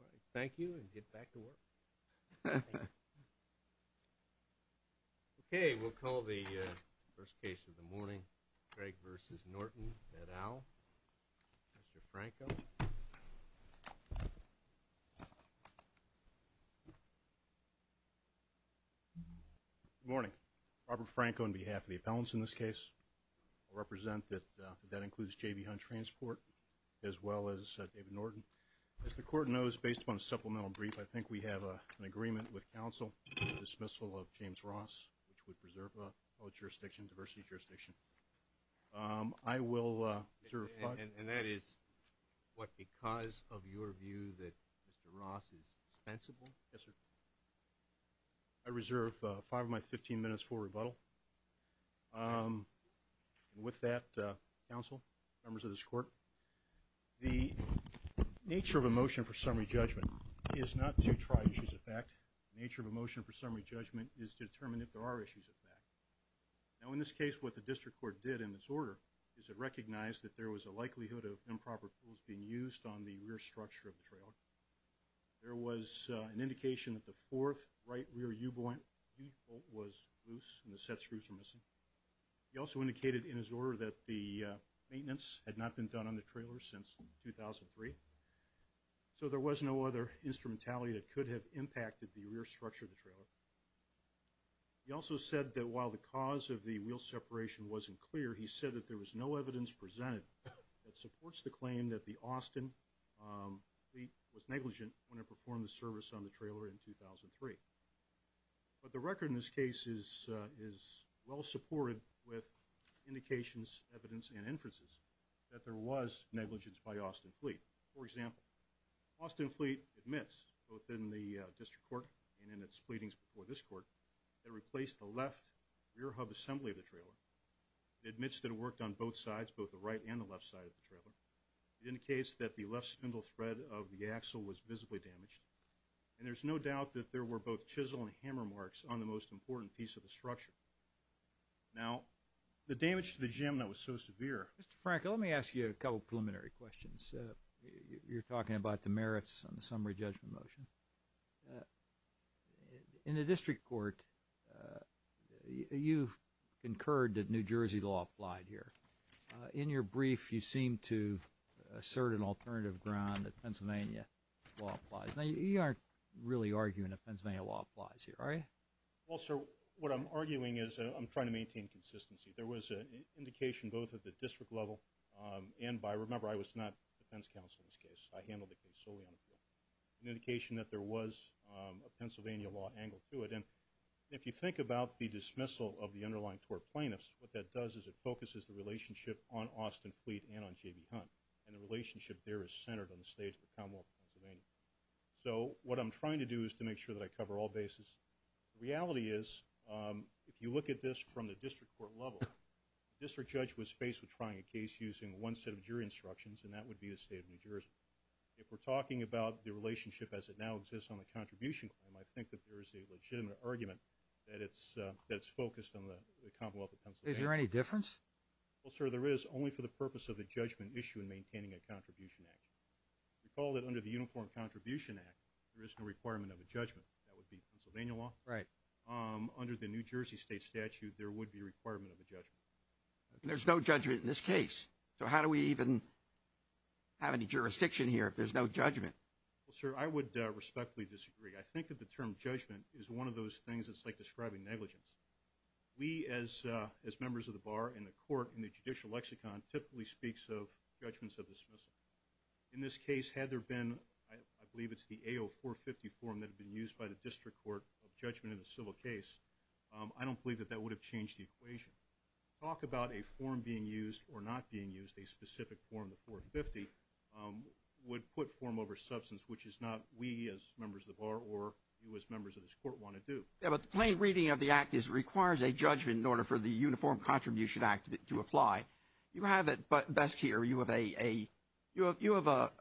All right. Thank you. And get back to work. Okay. We'll call the first case of the morning. Craig v. Norton, Ed Owl, Mr. Franco. Good morning. Robert Franco on behalf of the appellants in this case. I'll represent that that includes J.B. Hunt Transport as well as David Norton. As the court knows, based upon the supplemental brief, I think we have an agreement with counsel for the dismissal of James Ross, which would preserve the jurisdiction, diversity jurisdiction. I will reserve five minutes. And that is what because of your view that Mr. Ross is dispensable? Yes, sir. I reserve five of my 15 minutes for rebuttal. With that, counsel, members of this court, the nature of a motion for summary judgment is not to try issues of fact. Nature of a motion for summary judgment is to determine if there are issues of fact. Now, in this case, what the district court did in this order is it recognized that there was a likelihood of improper tools being used on the rear structure of the trailer. There was an indication that the fourth right rear U-bolt was loose and the set screws were missing. He also indicated in his order that the maintenance had not been done on the trailer since 2003. So there was no other instrumentality that could have impacted the rear structure of the trailer. He also said that while the cause of the wheel separation wasn't clear, he said that there was no evidence presented that supports the claim that the Austin was negligent when it performed the service on the trailer in 2003. But the record in this case is well supported with indications, evidence, and inferences that there was negligence by Austin Fleet. For example, Austin Fleet admits, both in the district court and in its pleadings before this court, that it replaced the left rear hub assembly of the trailer. It admits that it worked on both sides, both the right and the left side of the trailer. It indicates that the left spindle thread of the axle was visibly damaged. And there's no doubt that there were both chisel and hammer marks on the most important piece of the structure. Now, the damage to the jim that was so severe… Mr. Frankel, let me ask you a couple preliminary questions. You're talking about the merits on the summary judgment motion. In the district court, you concurred that New Jersey law applied here. In your brief, you seem to assert an alternative ground that Pennsylvania law applies. Now, you aren't really arguing that Pennsylvania law applies here, are you? Well, sir, what I'm arguing is I'm trying to maintain consistency. There was an indication both at the district level and by… Remember, I was not defense counsel in this case. I handled the case solely on appeal. An indication that there was a Pennsylvania law angle to it. And if you think about the dismissal of the underlying tort plaintiffs, what that does is it focuses the relationship on Austin Fleet and on J.B. Hunt. And the relationship there is centered on the state of the Commonwealth of Pennsylvania. So what I'm trying to do is to make sure that I cover all bases. The reality is, if you look at this from the district court level, the district judge was faced with trying a case using one set of jury instructions, and that would be the state of New Jersey. If we're talking about the relationship as it now exists on the contribution claim, I think that there is a legitimate argument that it's focused on the Commonwealth of Pennsylvania. Is there any difference? Well, sir, there is, only for the purpose of the judgment issue in maintaining a contribution act. Recall that under the Uniform Contribution Act, there is no requirement of a judgment. That would be Pennsylvania law. Right. There's no judgment in this case. So how do we even have any jurisdiction here if there's no judgment? Well, sir, I would respectfully disagree. I think that the term judgment is one of those things that's like describing negligence. We, as members of the bar and the court in the judicial lexicon, typically speaks of judgments of dismissal. In this case, had there been, I believe it's the AO 450 form that had been used by the district court of judgment in a civil case, I don't believe that that would have changed the equation. Talk about a form being used or not being used, a specific form, the 450, would put form over substance, which is not we as members of the bar or you as members of this court want to do. Yeah, but the plain reading of the act is it requires a judgment in order for the Uniform Contribution Act to apply. You have it best here. You have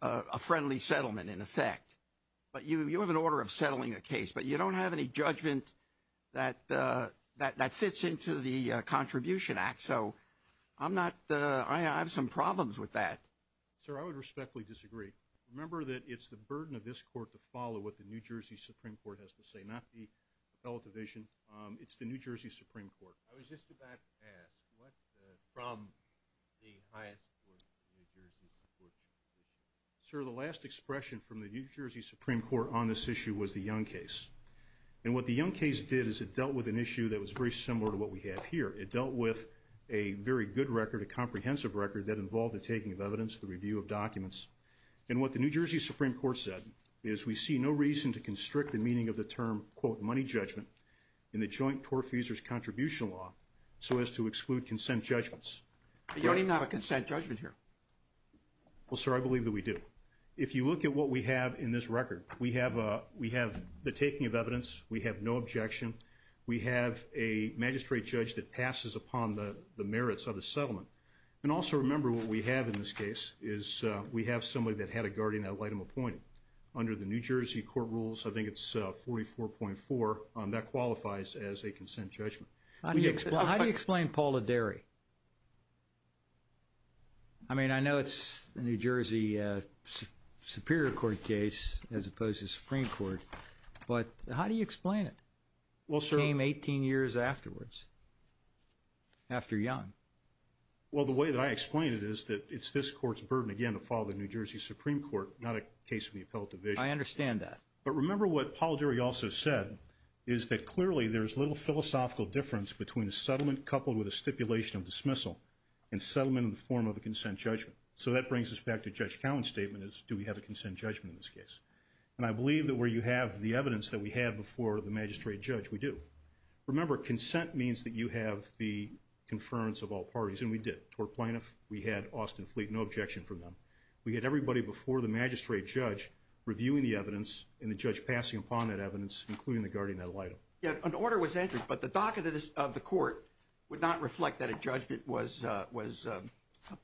a friendly settlement, in effect, but you have an order of settling a case, but you don't have any judgment that fits into the Contribution Act. So I'm not, I have some problems with that. Sir, I would respectfully disagree. Remember that it's the burden of this court to follow what the New Jersey Supreme Court has to say, not the appellate division. It's the New Jersey Supreme Court. I was just about to ask, what from the highest court in the New Jersey Supreme Court? Sir, the last expression from the New Jersey Supreme Court on this issue was the Young case. And what the Young case did is it dealt with an issue that was very similar to what we have here. It dealt with a very good record, a comprehensive record, that involved the taking of evidence, the review of documents. And what the New Jersey Supreme Court said is we see no reason to constrict the meaning of the term, quote, money judgment in the Joint Torf Easer's Contribution Law so as to exclude consent judgments. You don't even have a consent judgment here. Well, sir, I believe that we do. If you look at what we have in this record, we have the taking of evidence. We have no objection. We have a magistrate judge that passes upon the merits of the settlement. And also remember what we have in this case is we have somebody that had a guardian ad litem appointed. Under the New Jersey court rules, I think it's 44.4, that qualifies as a consent judgment. How do you explain Polidari? I mean, I know it's the New Jersey Superior Court case as opposed to the Supreme Court, but how do you explain it? It came 18 years afterwards after Young. Well, the way that I explain it is that it's this court's burden again to follow the New Jersey Supreme Court, not a case from the appellate division. I understand that. But remember what Polidari also said is that clearly there's little philosophical difference between a settlement coupled with a stipulation of dismissal and settlement in the form of a consent judgment. So that brings us back to Judge Cowen's statement, is do we have a consent judgment in this case? And I believe that where you have the evidence that we have before the magistrate judge, we do. Remember, consent means that you have the conference of all parties, and we did. To our plaintiff, we had Austin Fleet, no objection from them. We had everybody before the magistrate judge reviewing the evidence and the judge passing upon that evidence, including the guardian ad litem. An order was entered, but the docket of the court would not reflect that a judgment was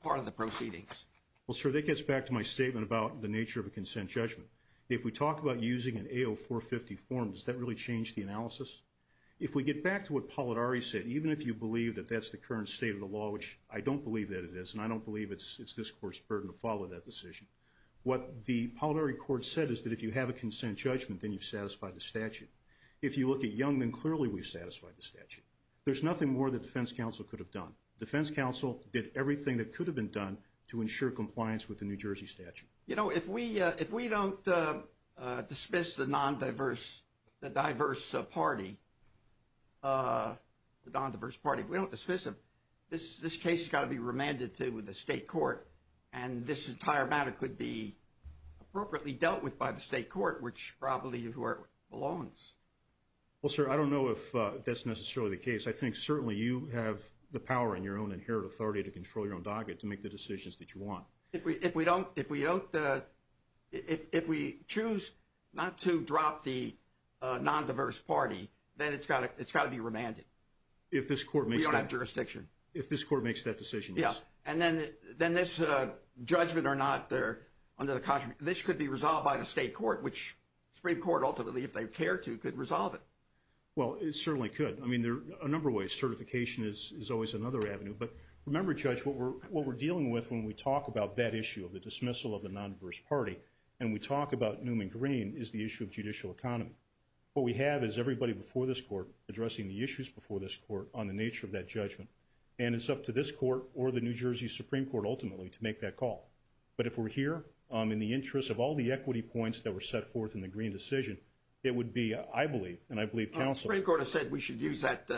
part of the proceedings. Well, sir, that gets back to my statement about the nature of a consent judgment. If we talk about using an AO 450 form, does that really change the analysis? If we get back to what Polidari said, even if you believe that that's the current state of the law, which I don't believe that it is and I don't believe it's this court's burden to follow that decision, what the Polidari court said is that if you have a consent judgment, then you've satisfied the statute. If you look at Young, then clearly we've satisfied the statute. There's nothing more the defense counsel could have done. Defense counsel did everything that could have been done to ensure compliance with the New Jersey statute. You know, if we don't dismiss the non-diverse, the diverse party, the non-diverse party, if we don't dismiss them, this case has got to be remanded to the state court, and this entire matter could be appropriately dealt with by the state court, which probably is where it belongs. Well, sir, I don't know if that's necessarily the case. I think certainly you have the power and your own inherent authority to control your own docket to make the decisions that you want. If we choose not to drop the non-diverse party, then it's got to be remanded. If this court makes that. We don't have jurisdiction. If this court makes that decision, yes. Yeah, and then this judgment or not, this could be resolved by the state court, which the Supreme Court ultimately, if they care to, could resolve it. Well, it certainly could. I mean, there are a number of ways. Certification is always another avenue. But remember, Judge, what we're dealing with when we talk about that issue of the dismissal of the non-diverse party and we talk about Newman Green is the issue of judicial economy. What we have is everybody before this court addressing the issues before this court on the nature of that judgment, and it's up to this court or the New Jersey Supreme Court ultimately to make that call. But if we're here in the interest of all the equity points that were set forth in the Green decision, it would be, I believe, and I believe counsel. The Supreme Court has said we should use that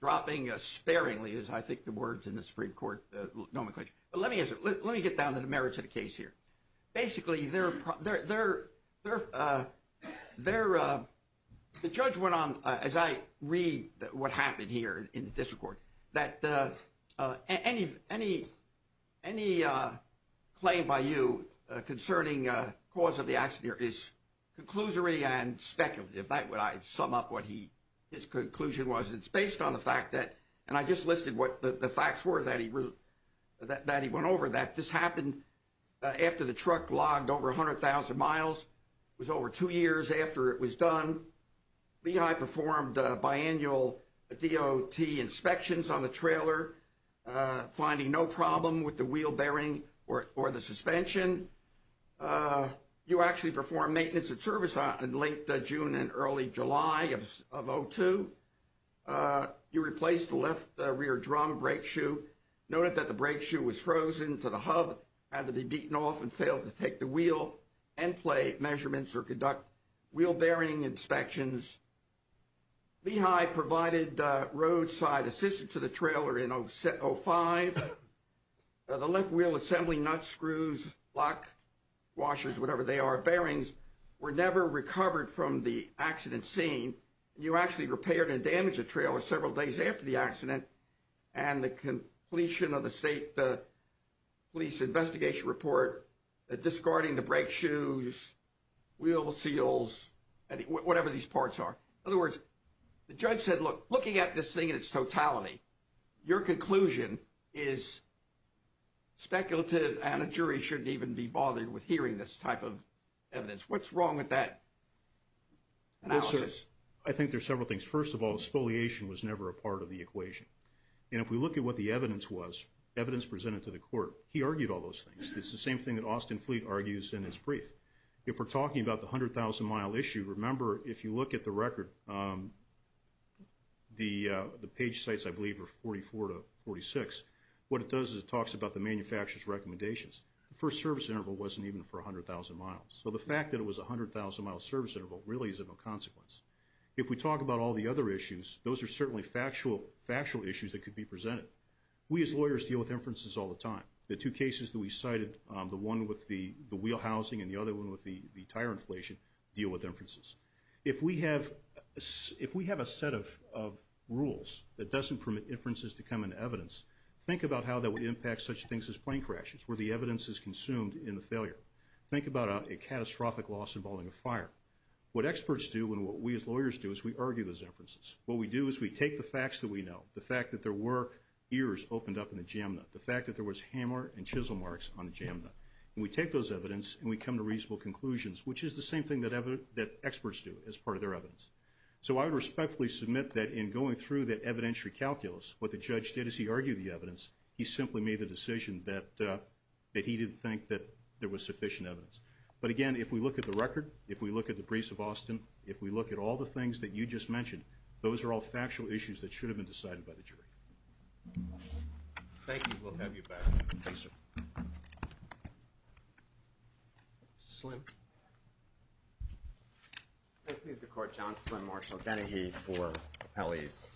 dropping sparingly is, I think, the words in the Supreme Court nomenclature. But let me get down to the merits of the case here. Basically, the judge went on, as I read what happened here in the district court, that any claim by you concerning cause of the accident is conclusory and speculative. If I sum up what his conclusion was, it's based on the fact that, and I just listed what the facts were that he went over, that this happened after the truck logged over 100,000 miles. It was over two years after it was done. Lehigh performed biannual DOT inspections on the trailer, finding no problem with the wheel bearing or the suspension. You actually performed maintenance and service in late June and early July of 2002. You replaced the left rear drum brake shoe, noted that the brake shoe was frozen to the hub, had to be beaten off and failed to take the wheel and play measurements or conduct wheel bearing inspections. Lehigh provided roadside assistance to the trailer in 05. The left wheel assembly nuts, screws, lock washers, whatever they are, bearings, were never recovered from the accident scene. You actually repaired and damaged the trailer several days after the accident. And the completion of the state police investigation report, discarding the brake shoes, wheel seals, whatever these parts are. In other words, the judge said, look, looking at this thing in its totality, your conclusion is speculative and a jury shouldn't even be bothered with hearing this type of evidence. What's wrong with that analysis? I think there's several things. First of all, spoliation was never a part of the equation. And if we look at what the evidence was, evidence presented to the court, he argued all those things. It's the same thing that Austin Fleet argues in his brief. If we're talking about the 100,000-mile issue, remember, if you look at the record, the page sites, I believe, are 44 to 46. What it does is it talks about the manufacturer's recommendations. The first service interval wasn't even for 100,000 miles. So the fact that it was a 100,000-mile service interval really is of no consequence. If we talk about all the other issues, those are certainly factual issues that could be presented. We as lawyers deal with inferences all the time. The two cases that we cited, the one with the wheel housing and the other one with the tire inflation, deal with inferences. If we have a set of rules that doesn't permit inferences to come into evidence, think about how that would impact such things as plane crashes, where the evidence is consumed in the failure. Think about a catastrophic loss involving a fire. What experts do and what we as lawyers do is we argue those inferences. What we do is we take the facts that we know, the fact that there were ears opened up in the jam nut, the fact that there was hammer and chisel marks on the jam nut, and we take those evidence and we come to reasonable conclusions, which is the same thing that experts do as part of their evidence. So I would respectfully submit that in going through that evidentiary calculus, what the judge did is he argued the evidence. He simply made the decision that he didn't think that there was sufficient evidence. But, again, if we look at the record, if we look at the briefs of Austin, if we look at all the things that you just mentioned, those are all factual issues that should have been decided by the jury. Thank you. We'll have you back. Thank you, sir. Mr. Slim. May it please the Court, John Slim, Marshall Dennehy for Appellees.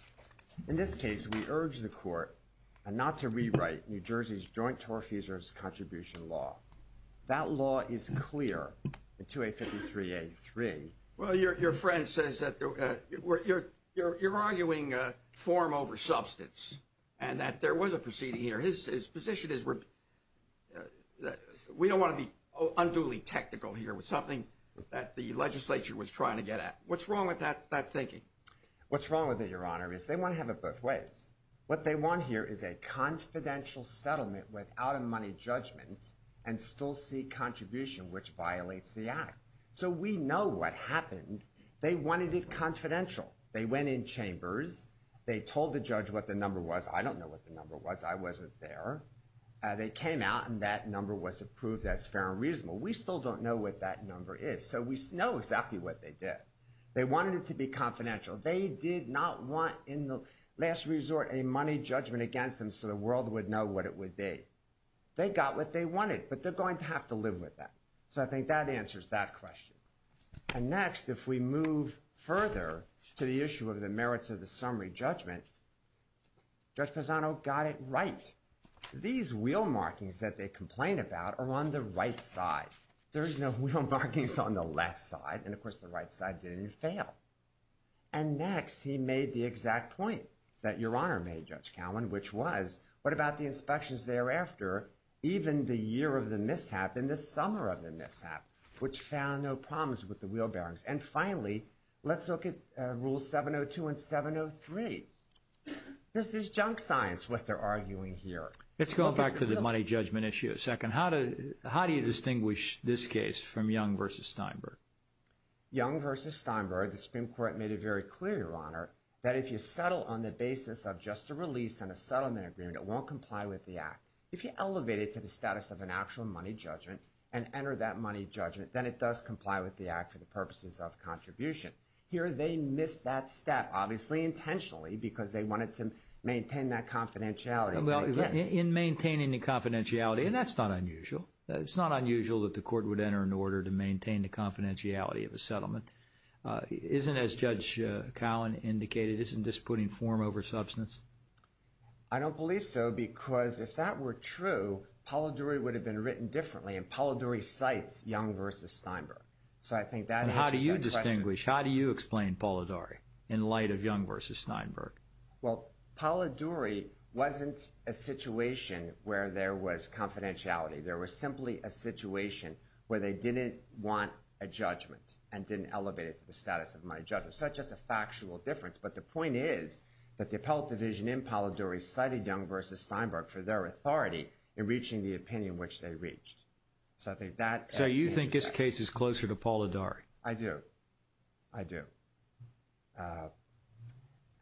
In this case, we urge the Court not to rewrite New Jersey's Joint Torf Easer's Contribution Law. That law is clear in 2A53A3. Well, your friend says that you're arguing form over substance and that there was a proceeding here. His position is we don't want to be unduly technical here with something that the legislature was trying to get at. What's wrong with that thinking? What's wrong with it, Your Honor, is they want to have it both ways. What they want here is a confidential settlement without a money judgment and still seek contribution, which violates the act. So we know what happened. They wanted it confidential. They went in chambers. They told the judge what the number was. I don't know what the number was. I wasn't there. They came out, and that number was approved as fair and reasonable. We still don't know what that number is, so we know exactly what they did. They wanted it to be confidential. They did not want in the last resort a money judgment against them so the world would know what it would be. They got what they wanted, but they're going to have to live with that. So I think that answers that question. And next, if we move further to the issue of the merits of the summary judgment, Judge Pisano got it right. These wheel markings that they complain about are on the right side. There is no wheel markings on the left side, and, of course, the right side didn't fail. And next, he made the exact point that Your Honor made, Judge Cowen, which was, what about the inspections thereafter, even the year of the mishap and the summer of the mishap, which found no problems with the wheel bearings? And finally, let's look at Rule 702 and 703. This is junk science, what they're arguing here. Let's go back to the money judgment issue a second. How do you distinguish this case from Young v. Steinberg? Young v. Steinberg, the Supreme Court made it very clear, Your Honor, that if you settle on the basis of just a release and a settlement agreement, it won't comply with the Act. If you elevate it to the status of an actual money judgment and enter that money judgment, then it does comply with the Act for the purposes of contribution. Here, they missed that step, obviously intentionally, because they wanted to maintain that confidentiality. Well, in maintaining the confidentiality, and that's not unusual, it's not unusual that the Court would enter an order to maintain the confidentiality of a settlement. Isn't, as Judge Cowen indicated, isn't this putting form over substance? I don't believe so, because if that were true, Polidori would have been written differently, and Polidori cites Young v. Steinberg. So I think that answers that question. How do you distinguish? How do you explain Polidori in light of Young v. Steinberg? Well, Polidori wasn't a situation where there was confidentiality. There was simply a situation where they didn't want a judgment and didn't elevate it to the status of a money judgment. So that's just a factual difference. But the point is that the appellate division in Polidori cited Young v. Steinberg for their authority in reaching the opinion which they reached. So I think that answers that. So you think this case is closer to Polidori? I do. I do.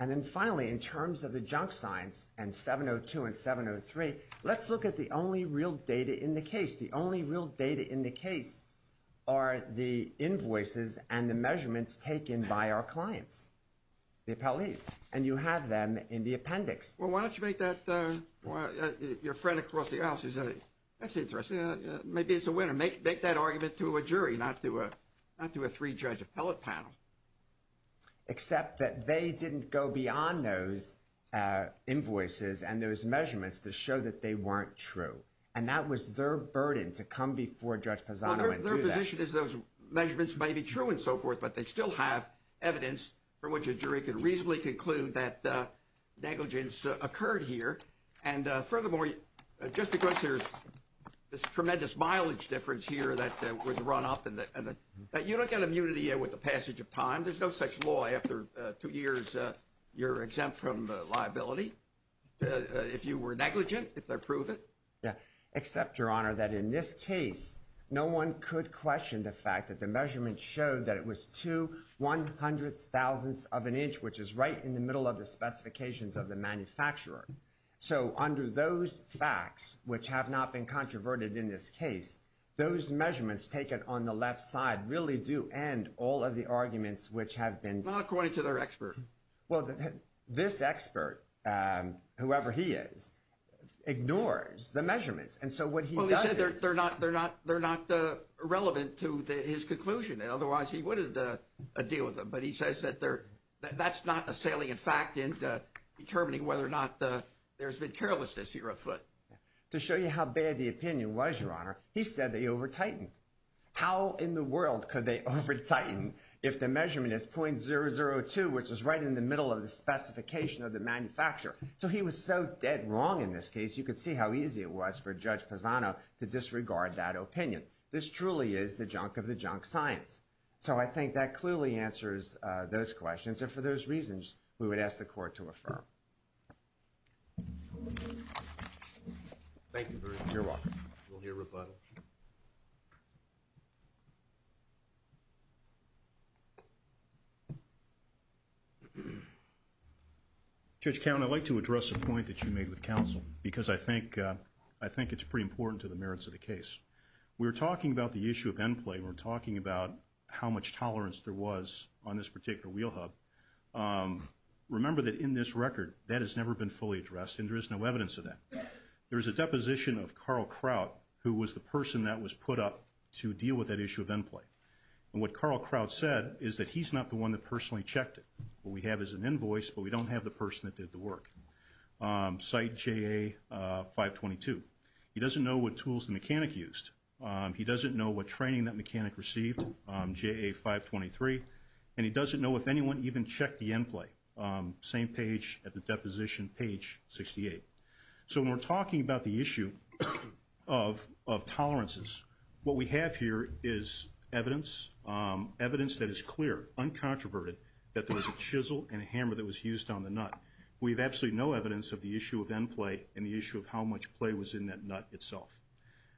And then finally, in terms of the junk signs and 702 and 703, let's look at the only real data in the case. The only real data in the case are the invoices and the measurements taken by our clients, the appellees. And you have them in the appendix. Well, why don't you make that your friend across the aisle says that's interesting. Maybe it's a winner. Make that argument to a jury, not to a three-judge appellate panel. Except that they didn't go beyond those invoices and those measurements to show that they weren't true. And that was their burden to come before Judge Pozzano and do that. Their position is those measurements may be true and so forth, but they still have evidence from which a jury could reasonably conclude that negligence occurred here. And furthermore, just because there's this tremendous mileage difference here that was run up and you don't get immunity with the passage of time. There's no such law after two years you're exempt from liability if you were negligent, if they prove it. Except, Your Honor, that in this case, no one could question the fact that the measurement showed that it was two one-hundredths, thousandths of an inch, which is right in the middle of the specifications of the manufacturer. So under those facts, which have not been controverted in this case, those measurements taken on the left side really do end all of the arguments which have been- Not according to their expert. Well, this expert, whoever he is, ignores the measurements. And so what he does is- Well, he said they're not relevant to his conclusion. Otherwise, he wouldn't deal with them. But he says that that's not a salient fact in determining whether or not there's been carelessness here afoot. To show you how bad the opinion was, Your Honor, he said they over-tightened. How in the world could they over-tighten if the measurement is .002, which is right in the middle of the specification of the manufacturer? So he was so dead wrong in this case. You could see how easy it was for Judge Pisano to disregard that opinion. This truly is the junk of the junk science. So I think that clearly answers those questions. And for those reasons, we would ask the Court to affirm. Thank you, Bruce. You're welcome. We'll hear rebuttal. Judge Cownie, I'd like to address a point that you made with counsel because I think it's pretty important to the merits of the case. We were talking about the issue of end play. We were talking about how much tolerance there was on this particular wheel hub. Remember that in this record, that has never been fully addressed, and there is no evidence of that. There is a deposition of Carl Kraut, who was the person that was put up to deal with that issue of end play. And what Carl Kraut said is that he's not the one that personally checked it. What we have is an invoice, but we don't have the person that did the work. Site JA-522. He doesn't know what tools the mechanic used. He doesn't know what training that mechanic received, JA-523. And he doesn't know if anyone even checked the end play. Same page at the deposition, page 68. So when we're talking about the issue of tolerances, what we have here is evidence, evidence that is clear, uncontroverted, that there was a chisel and a hammer that was used on the nut. We have absolutely no evidence of the issue of end play and the issue of how much play was in that nut itself.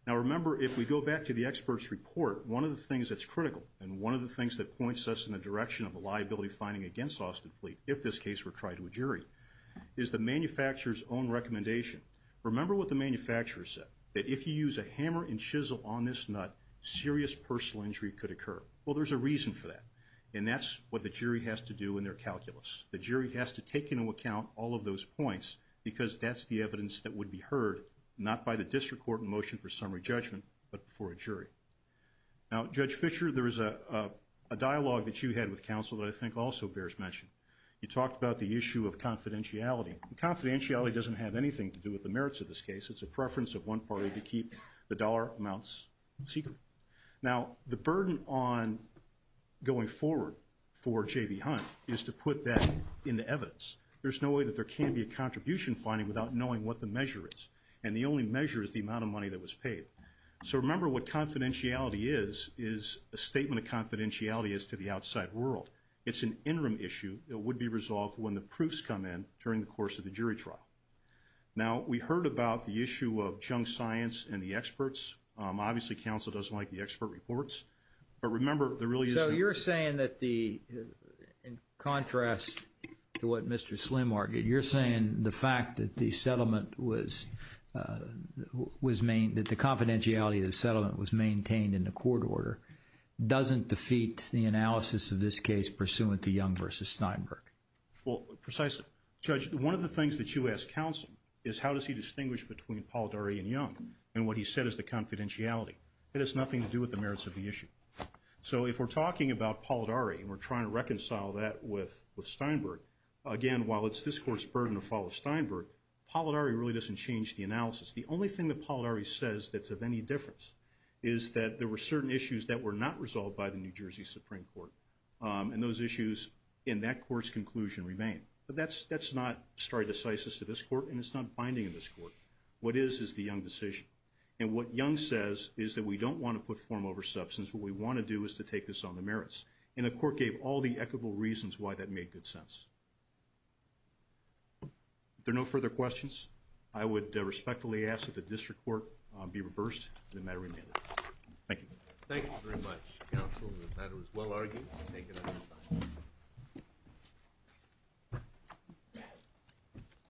Now, remember, if we go back to the expert's report, one of the things that's critical and one of the things that points us in the direction of the liability finding against Austin Fleet, if this case were tried to a jury, is the manufacturer's own recommendation. Remember what the manufacturer said, that if you use a hammer and chisel on this nut, serious personal injury could occur. Well, there's a reason for that, and that's what the jury has to do in their calculus. The jury has to take into account all of those points because that's the evidence that would be heard, not by the district court in motion for summary judgment, but before a jury. Now, Judge Fischer, there is a dialogue that you had with counsel that I think also bears mention. You talked about the issue of confidentiality. Confidentiality doesn't have anything to do with the merits of this case. It's a preference of one party to keep the dollar amounts secret. Now, the burden on going forward for J.B. Hunt is to put that into evidence. There's no way that there can be a contribution finding without knowing what the measure is, and the only measure is the amount of money that was paid. So remember what confidentiality is is a statement of confidentiality as to the outside world. It's an interim issue that would be resolved when the proofs come in during the course of the jury trial. Now, we heard about the issue of junk science and the experts. Obviously, counsel doesn't like the expert reports. So you're saying that in contrast to what Mr. Slim argued, you're saying the fact that the confidentiality of the settlement was maintained in the court order doesn't defeat the analysis of this case pursuant to Young v. Steinberg. Well, precisely. Judge, one of the things that you asked counsel is how does he distinguish between Paul Dury and Young and what he said is the confidentiality. It has nothing to do with the merits of the issue. So if we're talking about Paul Dury and we're trying to reconcile that with Steinberg, again, while it's this court's burden to follow Steinberg, Paul Dury really doesn't change the analysis. The only thing that Paul Dury says that's of any difference is that there were certain issues that were not resolved by the New Jersey Supreme Court, and those issues in that court's conclusion remain. But that's not stare decisis to this court, and it's not binding in this court. What is is the Young decision. And what Young says is that we don't want to put form over substance. What we want to do is to take this on the merits, and the court gave all the equitable reasons why that made good sense. If there are no further questions, I would respectfully ask that the district court be reversed and the matter be amended. Thank you. Thank you very much, counsel. The matter is well argued. Thank you.